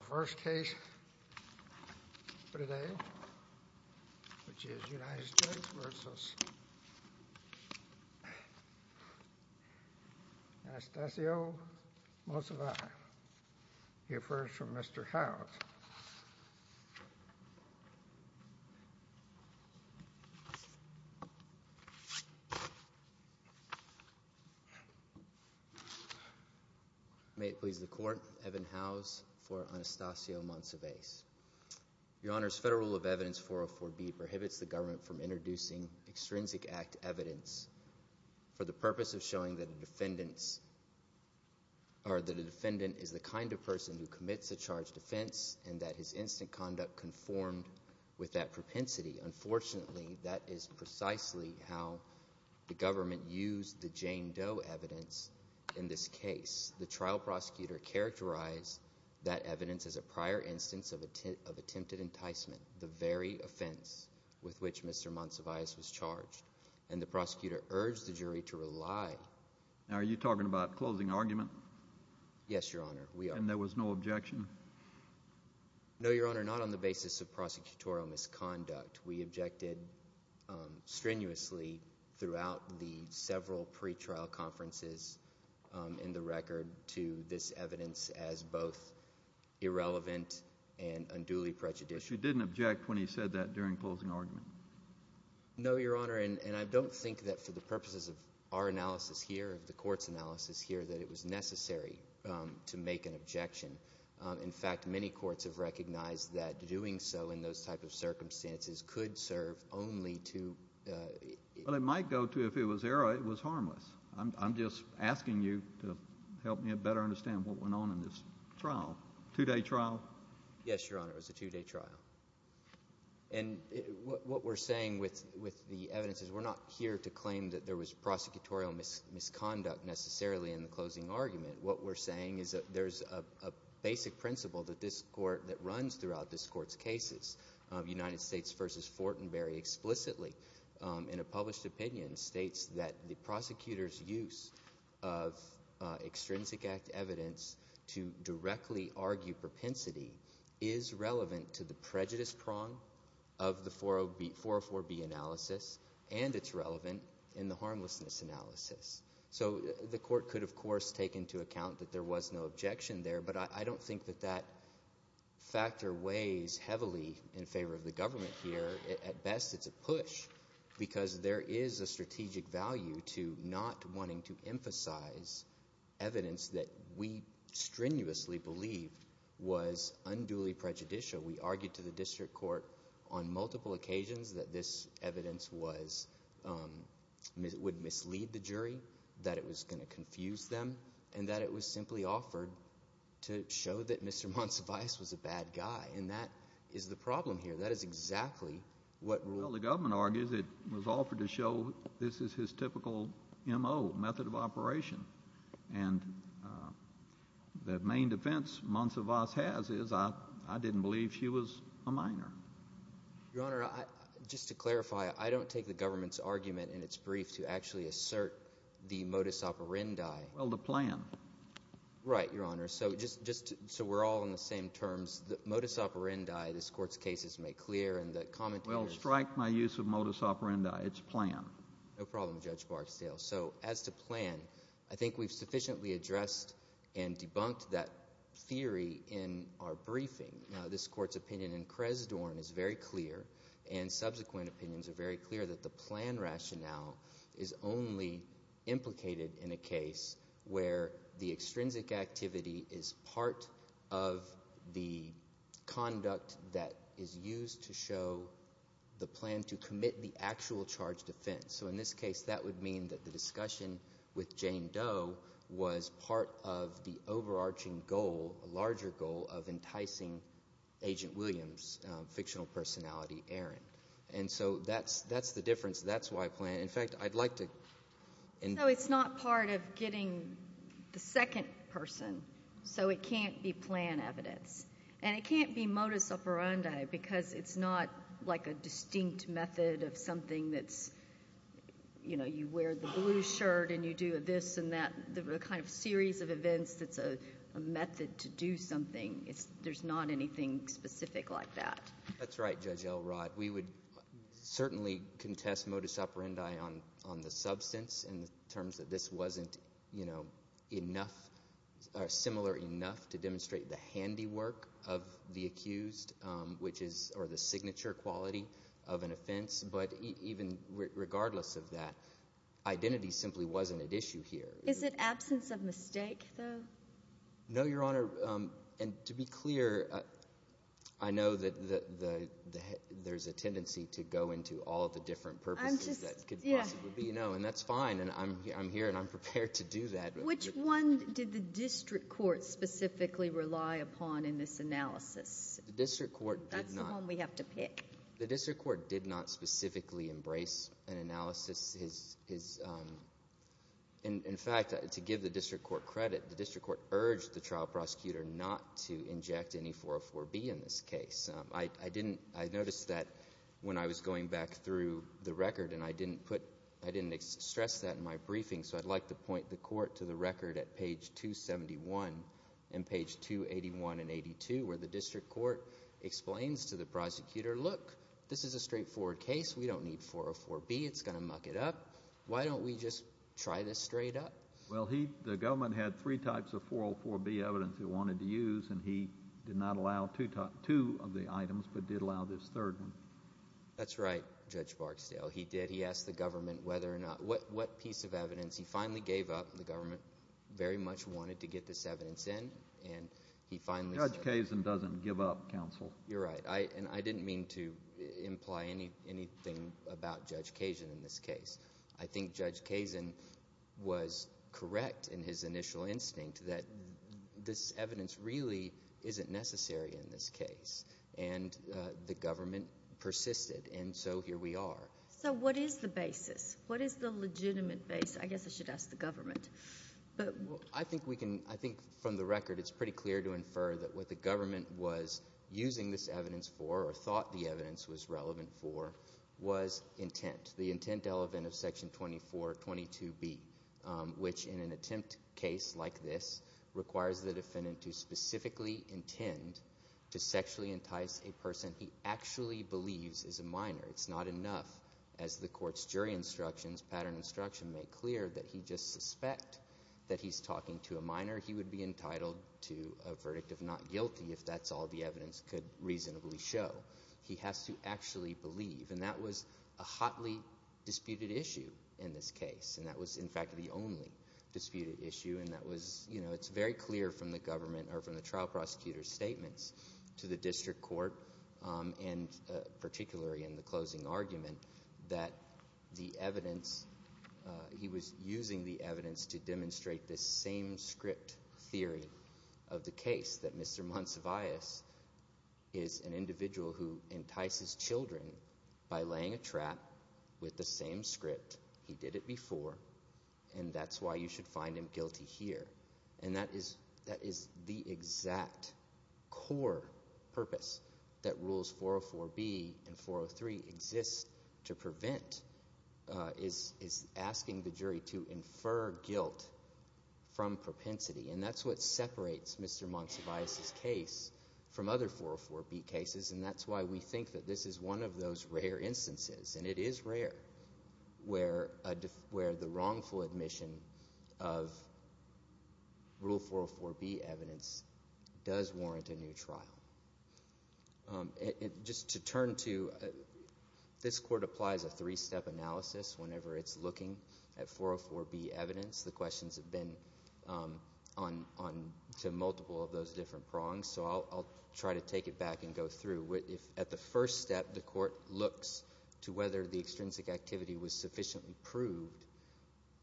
The first case for today, which is United States v. Anastasio Monsivais. We'll hear first from Mr. Howes. May it please the court, Evan Howes for Anastasio Monsivais. Your Honor, as federal rule of evidence 404B prohibits the government from introducing extrinsic act evidence for the purpose of showing that a defendant is the kind of person who commits a charged offense and that his instant conduct conformed with that propensity. Unfortunately, that is precisely how the government used the Jane Doe evidence in this case. The trial prosecutor characterized that evidence as a prior instance of attempted enticement, the very offense with which Mr. Monsivais was charged, and the prosecutor urged the jury to rely. Now, are you talking about closing argument? Yes, Your Honor, we are. And there was no objection? No, Your Honor, not on the basis of prosecutorial misconduct. We objected strenuously throughout the several pretrial conferences in the record to this evidence as both irrelevant and unduly prejudicial. But you didn't object when he said that during closing argument? No, Your Honor, and I don't think that for the purposes of our analysis here, of the court's analysis here, that it was necessary to make an objection. In fact, many courts have recognized that doing so in those type of circumstances could serve only to— Well, it might go to if it was error, it was harmless. I'm just asking you to help me better understand what went on in this trial, two-day trial. Yes, Your Honor, it was a two-day trial. And what we're saying with the evidence is we're not here to claim that there was prosecutorial misconduct necessarily in the closing argument. What we're saying is that there's a basic principle that this court – that runs throughout this court's cases. United States v. Fortenberry explicitly in a published opinion states that the prosecutor's use of extrinsic act evidence to directly argue propensity is relevant to the prejudice prong of the 404B analysis, and it's relevant in the harmlessness analysis. So the court could, of course, take into account that there was no objection there, but I don't think that that factor weighs heavily in favor of the government here. At best, it's a push because there is a strategic value to not wanting to emphasize evidence that we strenuously believed was unduly prejudicial. We argued to the district court on multiple occasions that this evidence would mislead the jury, that it was going to confuse them, and that it was simply offered to show that Mr. Monsivais was a bad guy, and that is the problem here. That is exactly what ruled. It was offered to show this is his typical M.O., method of operation, and the main defense Monsivais has is I didn't believe she was a minor. Your Honor, just to clarify, I don't take the government's argument in its brief to actually assert the modus operandi. Well, the plan. Right, Your Honor. So we're all on the same terms. The modus operandi this court's cases make clear, and the commentators— Well, strike my use of modus operandi. It's plan. No problem, Judge Barksdale. So as to plan, I think we've sufficiently addressed and debunked that theory in our briefing. Now, this court's opinion in Cresdorn is very clear, and subsequent opinions are very clear that the plan rationale is only implicated in a case where the extrinsic activity is part of the conduct that is used to show the plan to commit the actual charged offense. So in this case, that would mean that the discussion with Jane Doe was part of the overarching goal, a larger goal, of enticing Agent Williams' fictional personality, Aaron. And so that's the difference. That's why plan—in fact, I'd like to— You wear the blue shirt, and you do this and that, the kind of series of events that's a method to do something. There's not anything specific like that. That's right, Judge Elrod. We would certainly contest modus operandi on the substance in terms that this wasn't enough or similar enough to demonstrate the handiwork of the accused or the signature quality of an offense. But even regardless of that, identity simply wasn't at issue here. Is it absence of mistake, though? No, Your Honor. And to be clear, I know that there's a tendency to go into all of the different purposes that could possibly be, and that's fine. And I'm here, and I'm prepared to do that. Which one did the district court specifically rely upon in this analysis? The district court did not— That's the one we have to pick. The district court did not specifically embrace an analysis. In fact, to give the district court credit, the district court urged the trial prosecutor not to inject any 404B in this case. I noticed that when I was going back through the record, and I didn't put—I didn't stress that in my briefing, so I'd like to point the court to the record at page 271 and page 281 and 82 where the district court explains to the prosecutor, look, this is a straightforward case. We don't need 404B. It's going to muck it up. Why don't we just try this straight up? Well, the government had three types of 404B evidence it wanted to use, and he did not allow two of the items but did allow this third one. That's right, Judge Barksdale. He did. He asked the government whether or not—what piece of evidence. He finally gave up. The government very much wanted to get this evidence in, and he finally said— Judge Kazin doesn't give up, counsel. You're right, and I didn't mean to imply anything about Judge Kazin in this case. I think Judge Kazin was correct in his initial instinct that this evidence really isn't necessary in this case, and the government persisted, and so here we are. So what is the basis? What is the legitimate basis? I guess I should ask the government. I think we can—I think from the record it's pretty clear to infer that what the government was using this evidence for or thought the evidence was relevant for was intent, the intent element of Section 2422B, which in an attempt case like this requires the defendant to specifically intend to sexually entice a person he actually believes is a minor. It's not enough, as the court's jury instructions, pattern instruction, make clear that he just suspect that he's talking to a minor. He would be entitled to a verdict of not guilty if that's all the evidence could reasonably show. He has to actually believe, and that was a hotly disputed issue in this case, and that was, in fact, the only disputed issue. It's very clear from the trial prosecutor's statements to the district court, and particularly in the closing argument, that the evidence – he was using the evidence to demonstrate this same-script theory of the case, that Mr. Monsivais is an individual who entices children by laying a trap with the same script. He did it before, and that's why you should find him guilty here. And that is the exact core purpose that Rules 404B and 403 exist to prevent is asking the jury to infer guilt from propensity. And that's what separates Mr. Monsivais' case from other 404B cases, and that's why we think that this is one of those rare instances. And it is rare where the wrongful admission of Rule 404B evidence does warrant a new trial. Just to turn to – this court applies a three-step analysis whenever it's looking at 404B evidence. The questions have been to multiple of those different prongs, so I'll try to take it back and go through. At the first step, the court looks to whether the extrinsic activity was sufficiently proved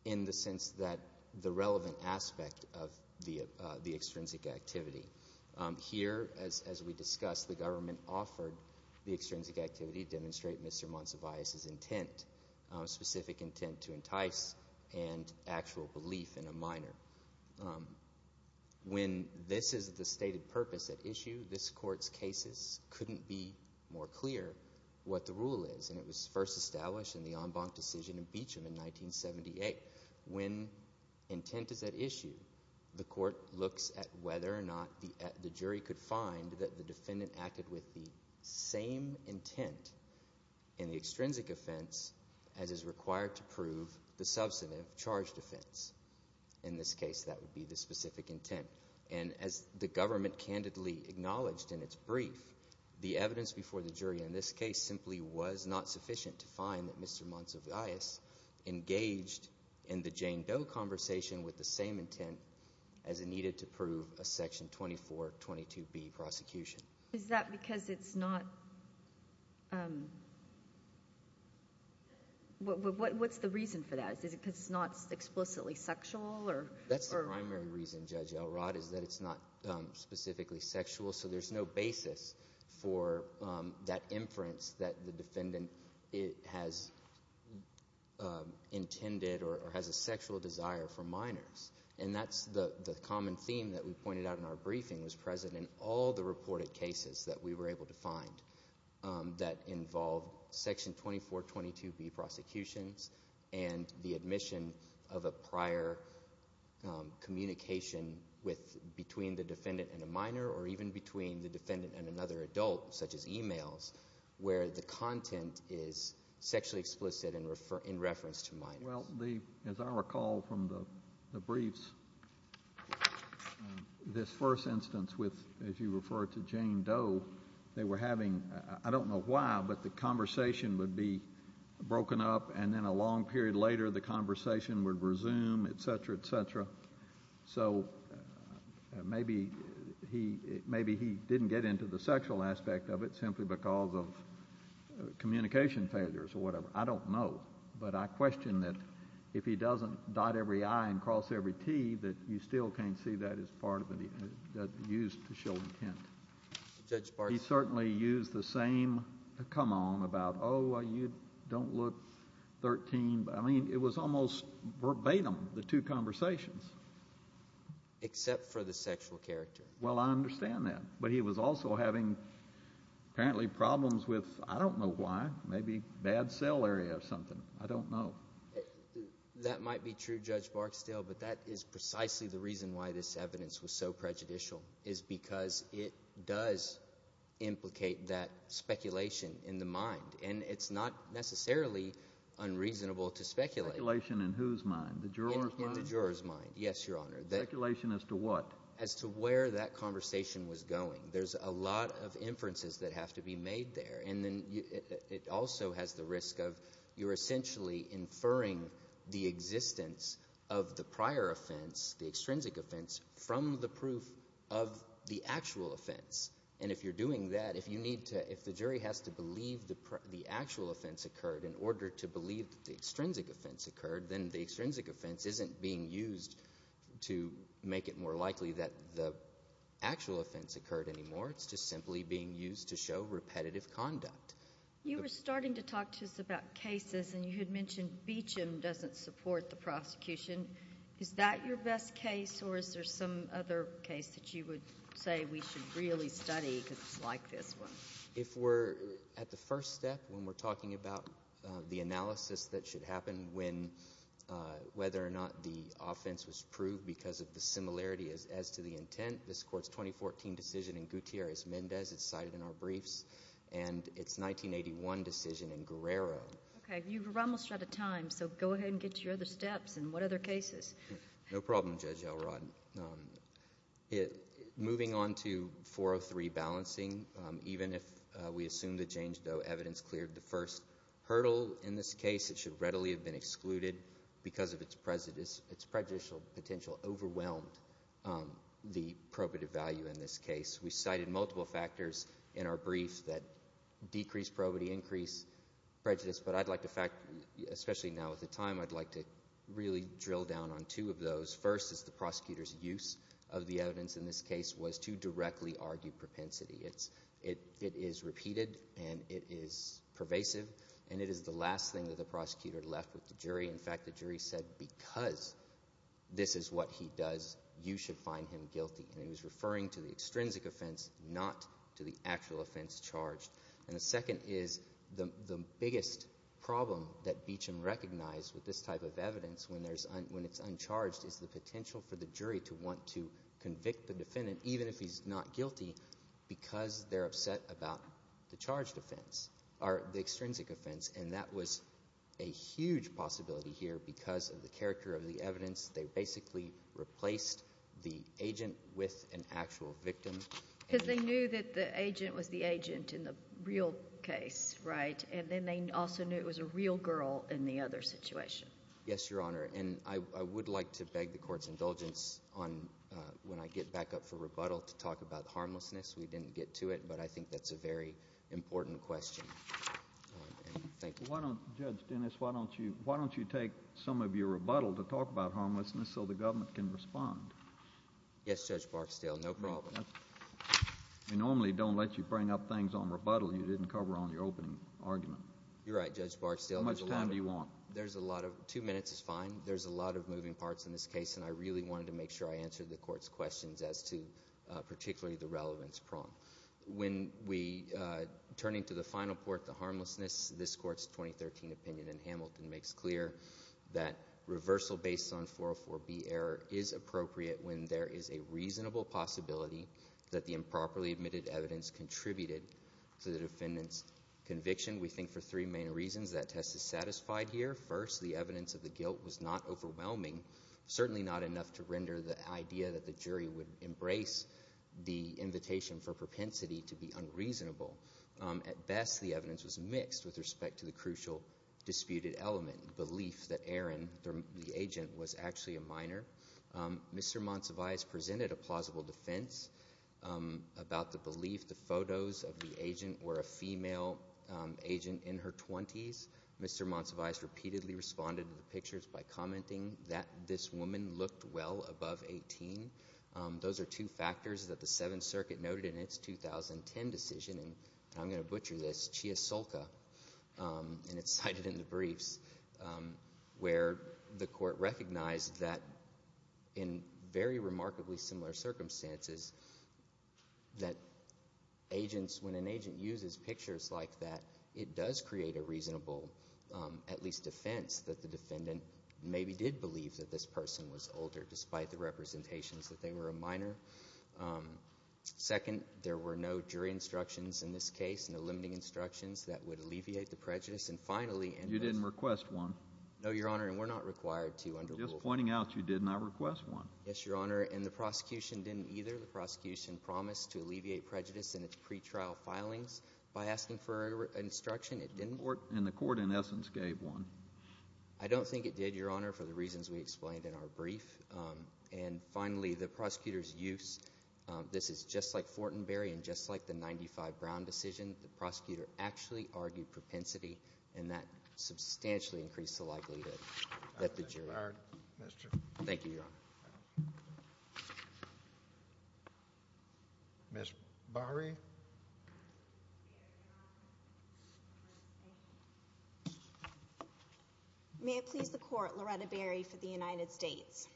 in the sense that the relevant aspect of the extrinsic activity. Here, as we discussed, the government offered the extrinsic activity to demonstrate Mr. Monsivais' intent, specific intent to entice and actual belief in a minor. When this is the stated purpose at issue, this court's cases couldn't be more clear what the rule is, and it was first established in the en banc decision in Beecham in 1978. When intent is at issue, the court looks at whether or not the jury could find that the defendant acted with the same intent in the extrinsic offense as is required to prove the substantive charge defense. In this case, that would be the specific intent. And as the government candidly acknowledged in its brief, the evidence before the jury in this case simply was not sufficient to find that Mr. Monsivais engaged in the Jane Doe conversation with the same intent as it needed to prove a Section 2422B prosecution. Is that because it's not—what's the reason for that? Is it because it's not explicitly sexual or— That's the primary reason, Judge Elrod, is that it's not specifically sexual, so there's no basis for that inference that the defendant has intended or has a sexual desire for minors. And that's the common theme that we pointed out in our briefing was present in all the reported cases that we were able to find that involved Section 2422B prosecutions and the admission of a prior communication between the defendant and a minor or even between the defendant and another adult, such as emails, where the content is sexually explicit in reference to minors. Well, as I recall from the briefs, this first instance with, as you referred to, Jane Doe, they were having—I don't know why, but the conversation would be broken up, and then a long period later the conversation would resume, et cetera, et cetera. So maybe he didn't get into the sexual aspect of it simply because of communication failures or whatever. I don't know, but I question that if he doesn't dot every I and cross every T, that you still can't see that as part of—used to show intent. Judge Bartlett? He certainly used the same come on about, oh, you don't look 13. I mean, it was almost verbatim, the two conversations. Except for the sexual character. Well, I understand that. But he was also having apparently problems with, I don't know why, maybe bad cell area or something. I don't know. That might be true, Judge Barksdale, but that is precisely the reason why this evidence was so prejudicial is because it does implicate that speculation in the mind, and it's not necessarily unreasonable to speculate. Speculation in whose mind, the juror's mind? In the juror's mind, yes, Your Honor. Speculation as to what? As to where that conversation was going. There's a lot of inferences that have to be made there, and then it also has the risk of you're essentially inferring the existence of the prior offense, the extrinsic offense, from the proof of the actual offense. And if you're doing that, if you need to—if the jury has to believe the actual offense occurred in order to believe that the extrinsic offense occurred, then the extrinsic offense isn't being used to make it more likely that the actual offense occurred anymore. It's just simply being used to show repetitive conduct. You were starting to talk to us about cases, and you had mentioned Beecham doesn't support the prosecution. Is that your best case, or is there some other case that you would say we should really study because it's like this one? If we're at the first step when we're talking about the analysis that should happen when whether or not the offense was proved because of the similarity as to the intent, this court's 2014 decision in Gutierrez-Mendez is cited in our briefs, and its 1981 decision in Guerrero. Okay. You're almost out of time, so go ahead and get to your other steps and what other cases. No problem, Judge Elrod. Moving on to 403, balancing. Even if we assume that James Doe evidence cleared the first hurdle in this case, it should readily have been excluded because its prejudicial potential overwhelmed the probative value in this case. We cited multiple factors in our briefs that decreased probity, increased prejudice, but I'd like to fact—especially now with the time, I'd like to really drill down on two of those. First is the prosecutor's use of the evidence in this case was to directly argue propensity. It is repeated, and it is pervasive, and it is the last thing that the prosecutor left with the jury. In fact, the jury said because this is what he does, you should find him guilty, and he was referring to the extrinsic offense, not to the actual offense charged. And the second is the biggest problem that Beacham recognized with this type of evidence when it's uncharged is the potential for the jury to want to convict the defendant even if he's not guilty because they're upset about the charged offense or the extrinsic offense, and that was a huge possibility here because of the character of the evidence. They basically replaced the agent with an actual victim. Because they knew that the agent was the agent in the real case, right? And then they also knew it was a real girl in the other situation. Yes, Your Honor, and I would like to beg the court's indulgence on when I get back up for rebuttal to talk about harmlessness. We didn't get to it, but I think that's a very important question. Thank you. Judge Dennis, why don't you take some of your rebuttal to talk about harmlessness so the government can respond? Yes, Judge Barksdale, no problem. We normally don't let you bring up things on rebuttal you didn't cover on your opening argument. You're right, Judge Barksdale. How much time do you want? Two minutes is fine. There's a lot of moving parts in this case, and I really wanted to make sure I answered the court's questions as to particularly the relevance prong. When we turn into the final port, the harmlessness, this court's 2013 opinion in Hamilton makes clear that reversal based on 404B error is appropriate when there is a reasonable possibility that the improperly admitted evidence contributed to the defendant's conviction. We think for three main reasons that test is satisfied here. First, the evidence of the guilt was not overwhelming, certainly not enough to render the idea that the jury would embrace the invitation for propensity to be unreasonable. At best, the evidence was mixed with respect to the crucial disputed element, the belief that Aaron, the agent, was actually a minor. Mr. Monsivais presented a plausible defense about the belief the photos of the agent were a female agent in her 20s. Mr. Monsivais repeatedly responded to the pictures by commenting that this woman looked well above 18. Those are two factors that the Seventh Circuit noted in its 2010 decision, and I'm going to butcher this, and it's cited in the briefs where the court recognized that in very remarkably similar circumstances that agents, when an agent uses pictures like that, it does create a reasonable, at least defense, that the defendant maybe did believe that this person was older despite the representations that they were a minor. Second, there were no jury instructions in this case, no limiting instructions that would alleviate the prejudice. And finally— You didn't request one. No, Your Honor, and we're not required to under rule— I'm just pointing out you did not request one. Yes, Your Honor, and the prosecution didn't either. The prosecution promised to alleviate prejudice in its pretrial filings by asking for an instruction. And the court, in essence, gave one. I don't think it did, Your Honor, for the reasons we explained in our brief. And finally, the prosecutor's use. This is just like Fortenberry and just like the 95 Brown decision. The prosecutor actually argued propensity, and that substantially increased the likelihood that the jury— Thank you, Your Honor. Ms. Bahri? May it please the court, Loretta Bahri for the United States.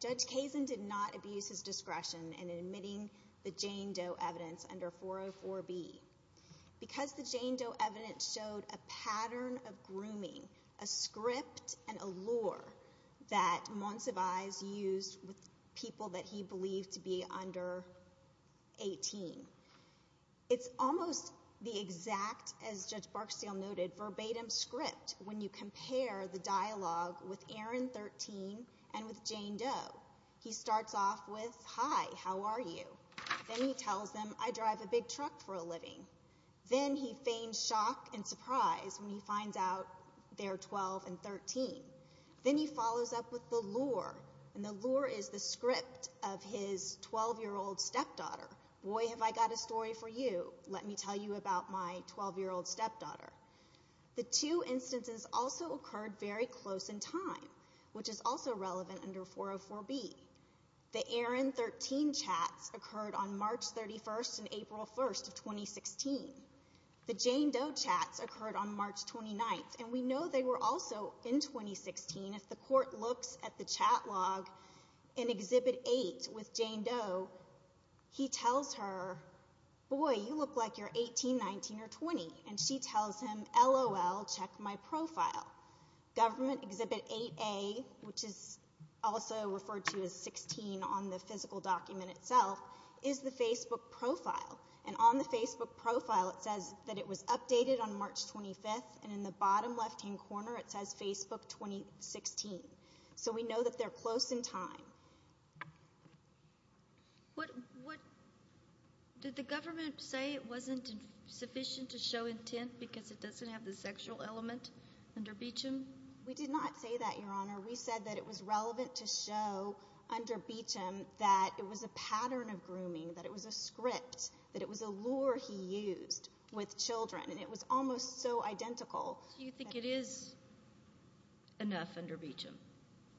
Judge Kazin did not abuse his discretion in admitting the Jane Doe evidence under 404B. Because the Jane Doe evidence showed a pattern of grooming, a script, and allure that Montsevize used with people that he believed to be under 18, it's almost the exact, as Judge Barksdale noted, verbatim script when you compare the dialogue with Aaron 13 and with Jane Doe. He starts off with, Hi, how are you? Then he tells them, I drive a big truck for a living. Then he feigns shock and surprise when he finds out they're 12 and 13. Then he follows up with the lure, and the lure is the script of his 12-year-old stepdaughter. Boy, have I got a story for you. Let me tell you about my 12-year-old stepdaughter. The two instances also occurred very close in time, which is also relevant under 404B. The Aaron 13 chats occurred on March 31st and April 1st of 2016. The Jane Doe chats occurred on March 29th, and we know they were also in 2016. If the court looks at the chat log in Exhibit 8 with Jane Doe, he tells her, Boy, you look like you're 18, 19, or 20. She tells him, LOL, check my profile. Government Exhibit 8A, which is also referred to as 16 on the physical document itself, is the Facebook profile. On the Facebook profile, it says that it was updated on March 25th, and in the bottom left-hand corner, it says Facebook 2016. We know that they're close in time. Did the government say it wasn't sufficient to show intent because it doesn't have the sexual element under Beecham? We did not say that, Your Honor. We said that it was relevant to show under Beecham that it was a pattern of grooming, that it was a script, that it was a lure he used with children, and it was almost so identical. Do you think it is enough under Beecham?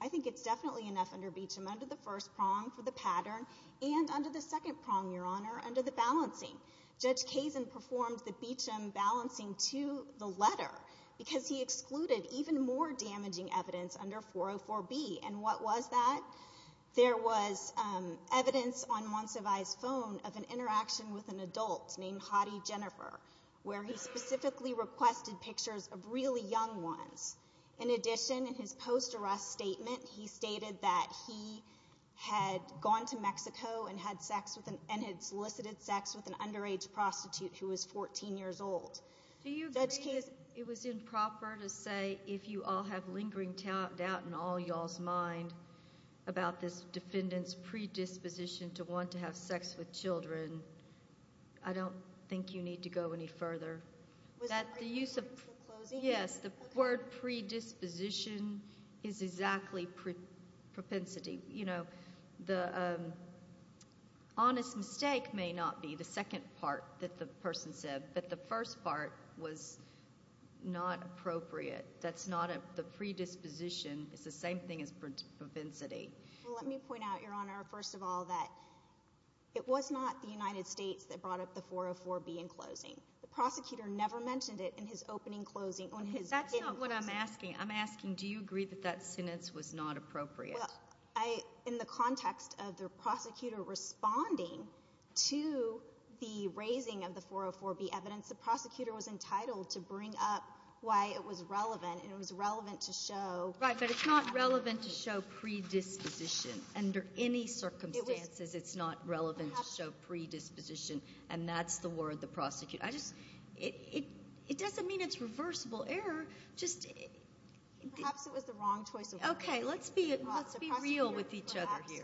I think it's definitely enough under Beecham under the first prong for the pattern and under the second prong, Your Honor, under the balancing. Judge Kazin performed the Beecham balancing to the letter because he excluded even more damaging evidence under 404B, and what was that? There was evidence on Monsivay's phone of an interaction with an adult named Hottie Jennifer, where he specifically requested pictures of really young ones. In addition, in his post-arrest statement, he stated that he had gone to Mexico and had solicited sex with an underage prostitute who was 14 years old. Do you agree that it was improper to say, if you all have lingering doubt in all y'all's mind about this defendant's predisposition to want to have sex with children, I don't think you need to go any further. Yes, the word predisposition is exactly propensity. The honest mistake may not be the second part that the person said, but the first part was not appropriate. The predisposition is the same thing as propensity. Let me point out, Your Honor, first of all, that it was not the United States that brought up the 404B in closing. The prosecutor never mentioned it in his opening closing. That's not what I'm asking. I'm asking, do you agree that that sentence was not appropriate? In the context of the prosecutor responding to the raising of the 404B evidence, the prosecutor was entitled to bring up why it was relevant, and it was relevant to show— Under any circumstances, it's not relevant to show predisposition, and that's the word the prosecutor— It doesn't mean it's reversible error. Perhaps it was the wrong choice of words. Okay, let's be real with each other here.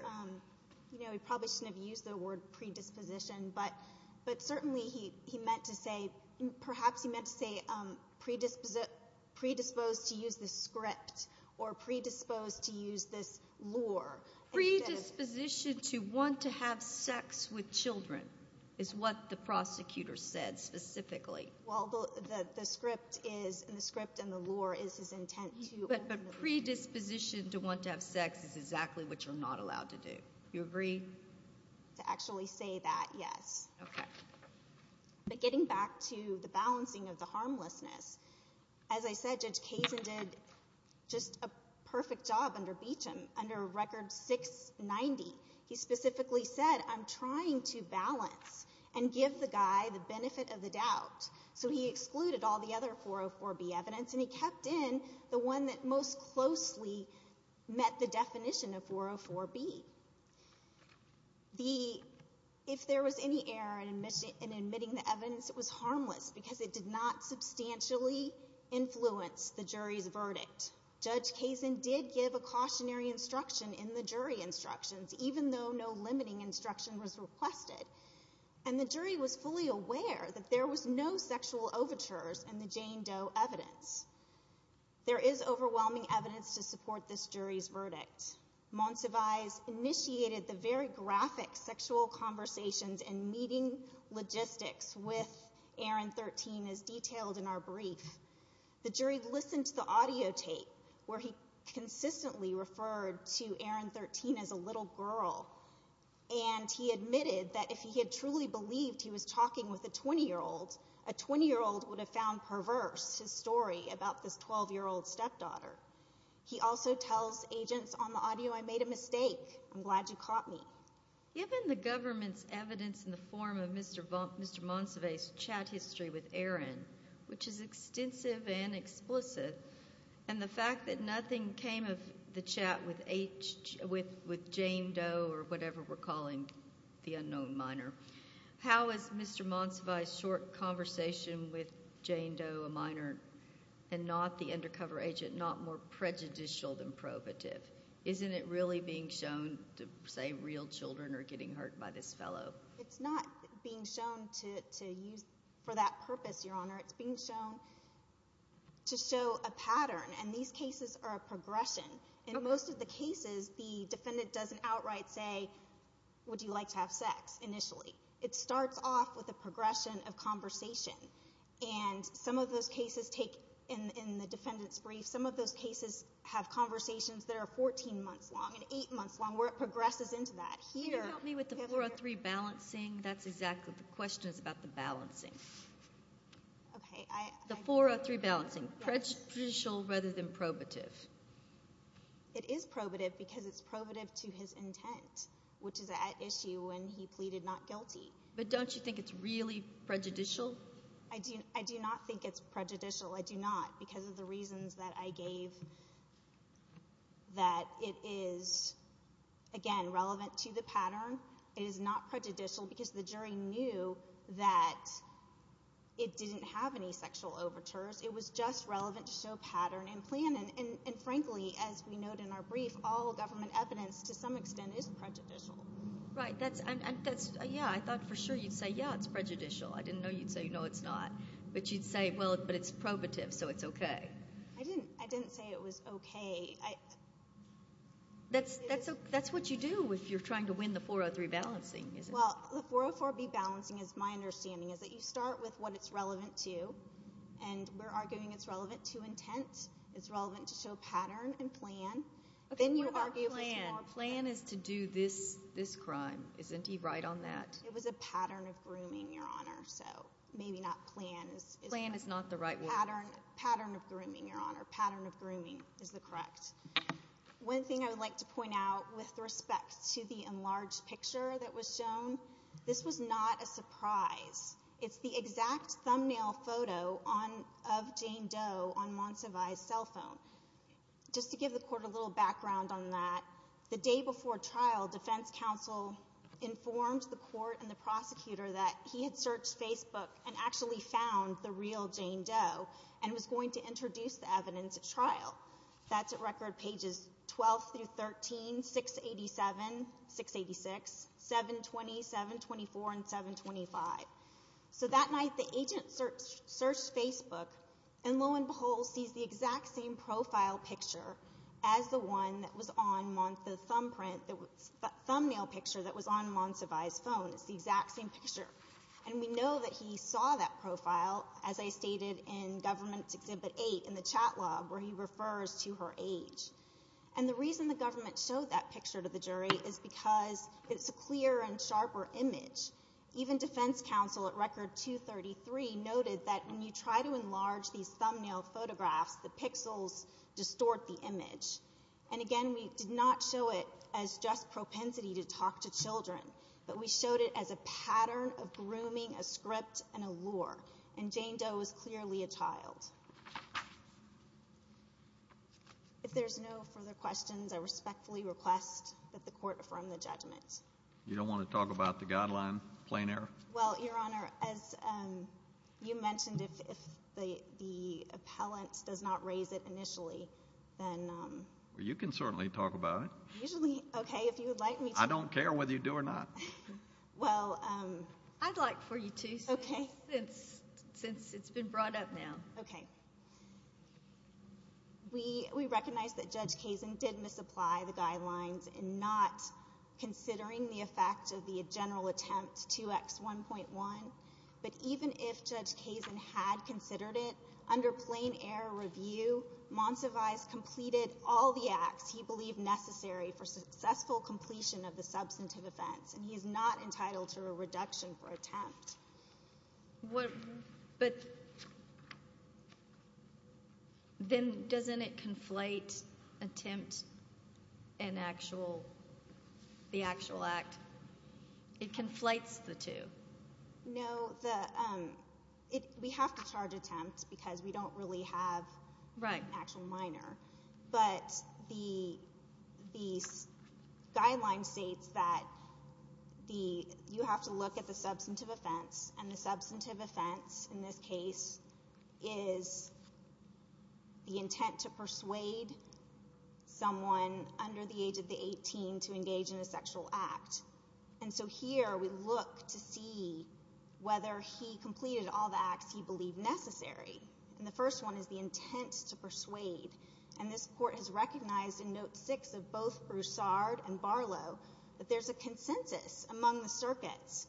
He probably shouldn't have used the word predisposition, but certainly he meant to say—perhaps he meant to say predisposed to use the script or predisposed to use this lure. Predisposition to want to have sex with children is what the prosecutor said specifically. Well, the script and the lure is his intent to— But predisposition to want to have sex is exactly what you're not allowed to do. Do you agree? To actually say that, yes. Okay. But getting back to the balancing of the harmlessness, as I said, Judge Kazin did just a perfect job under Beecham, under Record 690. He specifically said, I'm trying to balance and give the guy the benefit of the doubt. So he excluded all the other 404B evidence, and he kept in the one that most closely met the definition of 404B. If there was any error in admitting the evidence, it was harmless because it did not substantially influence the jury's verdict. Judge Kazin did give a cautionary instruction in the jury instructions, even though no limiting instruction was requested. And the jury was fully aware that there was no sexual overtures in the Jane Doe evidence. There is overwhelming evidence to support this jury's verdict. Monsivais initiated the very graphic sexual conversations and meeting logistics with Aaron 13, as detailed in our brief. The jury listened to the audio tape, where he consistently referred to Aaron 13 as a little girl. And he admitted that if he had truly believed he was talking with a 20-year-old, a 20-year-old would have found perverse his story about this 12-year-old stepdaughter. He also tells agents on the audio, I made a mistake. I'm glad you caught me. Given the government's evidence in the form of Mr. Monsivais' chat history with Aaron, which is extensive and explicit, and the fact that nothing came of the chat with Jane Doe or whatever we're calling the unknown minor, how is Mr. Monsivais' short conversation with Jane Doe, a minor and not the undercover agent, not more prejudicial than probative? Isn't it really being shown to say real children are getting hurt by this fellow? It's not being shown for that purpose, Your Honor. It's being shown to show a pattern, and these cases are a progression. In most of the cases, the defendant doesn't outright say, would you like to have sex, initially. It starts off with a progression of conversation. Some of those cases take, in the defendant's brief, some of those cases have conversations that are 14 months long and 8 months long, where it progresses into that. Can you help me with the 403 balancing? That's exactly what the question is about, the balancing. The 403 balancing, prejudicial rather than probative. It is probative because it's probative to his intent, which is at issue when he pleaded not guilty. But don't you think it's really prejudicial? I do not think it's prejudicial. I do not, because of the reasons that I gave that it is, again, relevant to the pattern. It is not prejudicial because the jury knew that it didn't have any sexual overtures. It was just relevant to show pattern and plan, and frankly, as we note in our brief, all government evidence, to some extent, is prejudicial. Right. Yeah, I thought for sure you'd say, yeah, it's prejudicial. I didn't know you'd say, no, it's not. But you'd say, well, but it's probative, so it's okay. I didn't say it was okay. That's what you do if you're trying to win the 403 balancing. Well, the 404B balancing, is my understanding, is that you start with what it's relevant to, and we're arguing it's relevant to intent, it's relevant to show pattern and plan. Plan is to do this crime. Isn't he right on that? It was a pattern of grooming, Your Honor, so maybe not plans. Plan is not the right word. Pattern of grooming, Your Honor. Pattern of grooming is the correct. One thing I would like to point out with respect to the enlarged picture that was shown, this was not a surprise. It's the exact thumbnail photo of Jane Doe on Montsevai's cell phone. Just to give the Court a little background on that, the day before trial, defense counsel informed the Court and the prosecutor that he had searched Facebook and actually found the real Jane Doe and was going to introduce the evidence at trial. That's at record pages 12 through 13, 687, 686, 720, 724, and 725. So that night, the agent searched Facebook, and lo and behold, sees the exact same profile picture as the one that was on Montsevai's thumbprint, the thumbnail picture that was on Montsevai's phone. It's the exact same picture. And we know that he saw that profile, as I stated in Government Exhibit 8 in the chat log, where he refers to her age. And the reason the government showed that picture to the jury is because it's a clearer and sharper image. Even defense counsel at record 233 noted that when you try to enlarge these thumbnail photographs, the pixels distort the image. And again, we did not show it as just propensity to talk to children, but we showed it as a pattern of grooming, a script, and a lure. And Jane Doe was clearly a child. If there's no further questions, I respectfully request that the Court affirm the judgment. You don't want to talk about the guideline, plain error? Well, Your Honor, as you mentioned, if the appellant does not raise it initially, then— Well, you can certainly talk about it. Usually? Okay, if you would like me to. I don't care whether you do or not. Well— I'd like for you to, since it's been brought up now. Okay. We recognize that Judge Kazin did misapply the guidelines in not considering the effect of the general attempt 2X1.1. But even if Judge Kazin had considered it, under plain error review, Monsivais completed all the acts he believed necessary for successful completion of the substantive offense, and he is not entitled to a reduction for attempt. But then doesn't it conflate attempt and the actual act? It conflates the two. No. We have to charge attempt because we don't really have an actual minor. But the guideline states that you have to look at the substantive offense, and the substantive offense in this case is the intent to persuade someone under the age of 18 to engage in a sexual act. And so here we look to see whether he completed all the acts he believed necessary. And the first one is the intent to persuade. And this Court has recognized in Note 6 of both Broussard and Barlow that there's a consensus among the circuits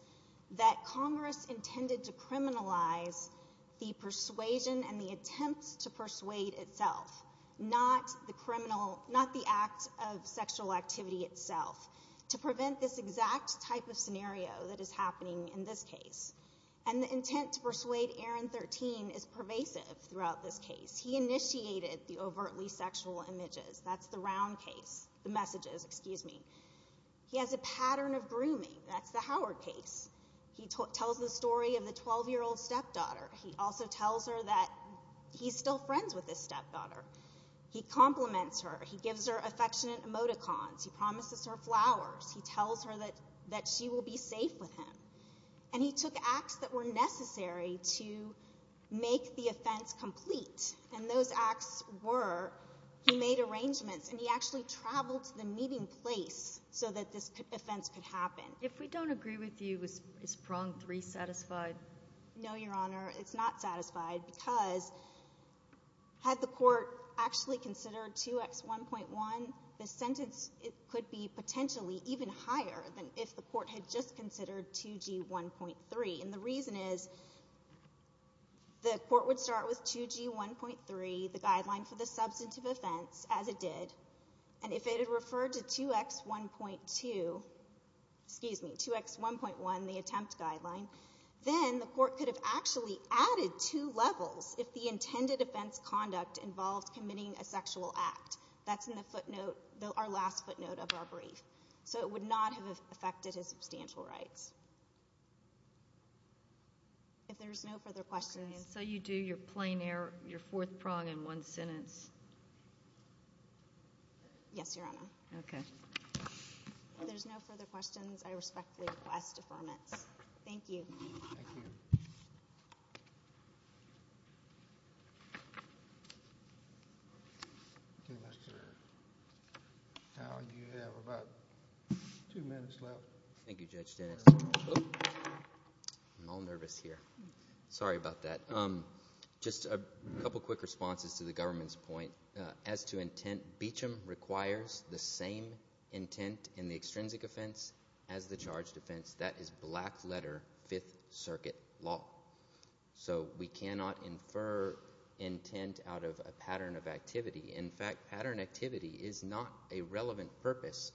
that Congress intended to criminalize the persuasion and the attempt to persuade itself, not the criminal—not the act of sexual activity itself, to prevent this exact type of scenario that is happening in this case. And the intent to persuade Aaron 13 is pervasive throughout this case. He initiated the overtly sexual images. That's the round case—the messages, excuse me. He has a pattern of grooming. That's the Howard case. He tells the story of the 12-year-old stepdaughter. He also tells her that he's still friends with his stepdaughter. He compliments her. He gives her affectionate emoticons. He promises her flowers. He tells her that she will be safe with him. And he took acts that were necessary to make the offense complete. And those acts were—he made arrangements, and he actually traveled to the meeting place so that this offense could happen. If we don't agree with you, is Prong 3 satisfied? No, Your Honor. It's not satisfied because had the Court actually considered 2X1.1, the sentence could be potentially even higher than if the Court had just considered 2G1.3. And the reason is the Court would start with 2G1.3, the guideline for the substantive offense, as it did. And if it had referred to 2X1.2—excuse me, 2X1.1, the attempt guideline, then the Court could have actually added two levels if the intended offense conduct involved committing a sexual act. That's in the footnote, our last footnote of our brief. So it would not have affected his substantial rights. If there's no further questions— So you do your plain error, your fourth prong in one sentence? Yes, Your Honor. Okay. If there's no further questions, I respectfully request affirmance. Thank you. Thank you. Mr. Howell, you have about two minutes left. Thank you, Judge Dennis. I'm all nervous here. Sorry about that. Just a couple quick responses to the government's point. As to intent, Beecham requires the same intent in the extrinsic offense as the charged offense. That is black-letter Fifth Circuit law. So we cannot infer intent out of a pattern of activity. In fact, pattern activity is not a relevant purpose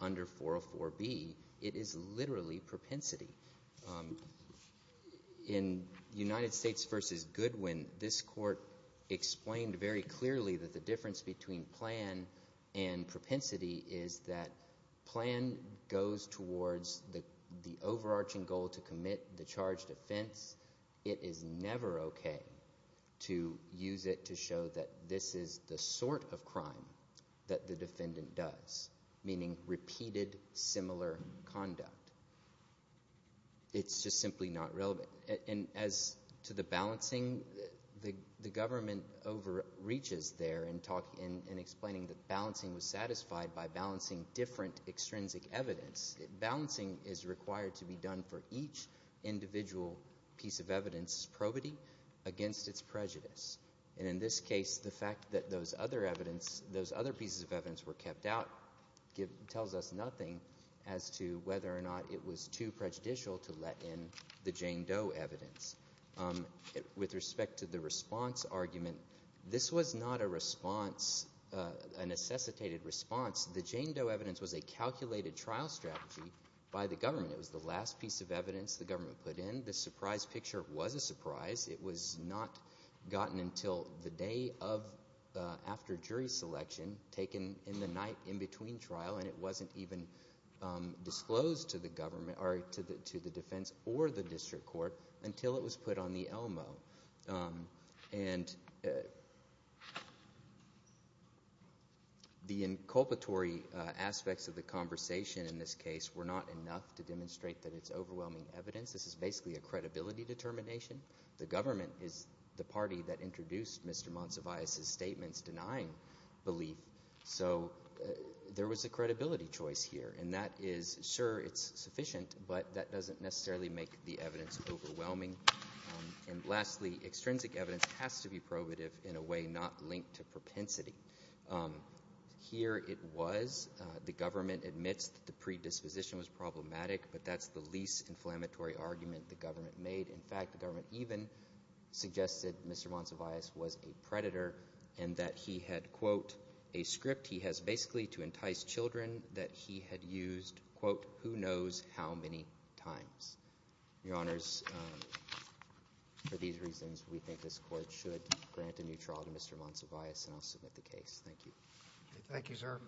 under 404B. It is literally propensity. In United States v. Goodwin, this court explained very clearly that the difference between plan and propensity is that plan goes towards the overarching goal to commit the charged offense. It is never okay to use it to show that this is the sort of crime that the defendant does, meaning repeated similar conduct. It's just simply not relevant. And as to the balancing, the government overreaches there in explaining that balancing was satisfied by balancing different extrinsic evidence. Balancing is required to be done for each individual piece of evidence's probity against its prejudice. And in this case, the fact that those other pieces of evidence were kept out tells us nothing as to whether or not it was too prejudicial to let in the Jane Doe evidence. With respect to the response argument, this was not a response, a necessitated response. The Jane Doe evidence was a calculated trial strategy by the government. It was the last piece of evidence the government put in. The surprise picture was a surprise. It was not gotten until the day after jury selection, taken in the night in between trial, and it wasn't even disclosed to the defense or the district court until it was put on the ELMO. And the inculpatory aspects of the conversation in this case were not enough to demonstrate that it's overwhelming evidence. This is basically a credibility determination. The government is the party that introduced Mr. Monsivais' statements denying belief, so there was a credibility choice here. And that is, sure, it's sufficient, but that doesn't necessarily make the evidence overwhelming. And lastly, extrinsic evidence has to be probative in a way not linked to propensity. Here it was. The government admits that the predisposition was problematic, but that's the least inflammatory argument the government made. In fact, the government even suggested Mr. Monsivais was a predator and that he had, quote, a script he has basically to entice children that he had used, quote, who knows how many times. Your Honors, for these reasons, we think this court should grant a new trial to Mr. Monsivais, and I'll submit the case. Thank you. Thank you, sir.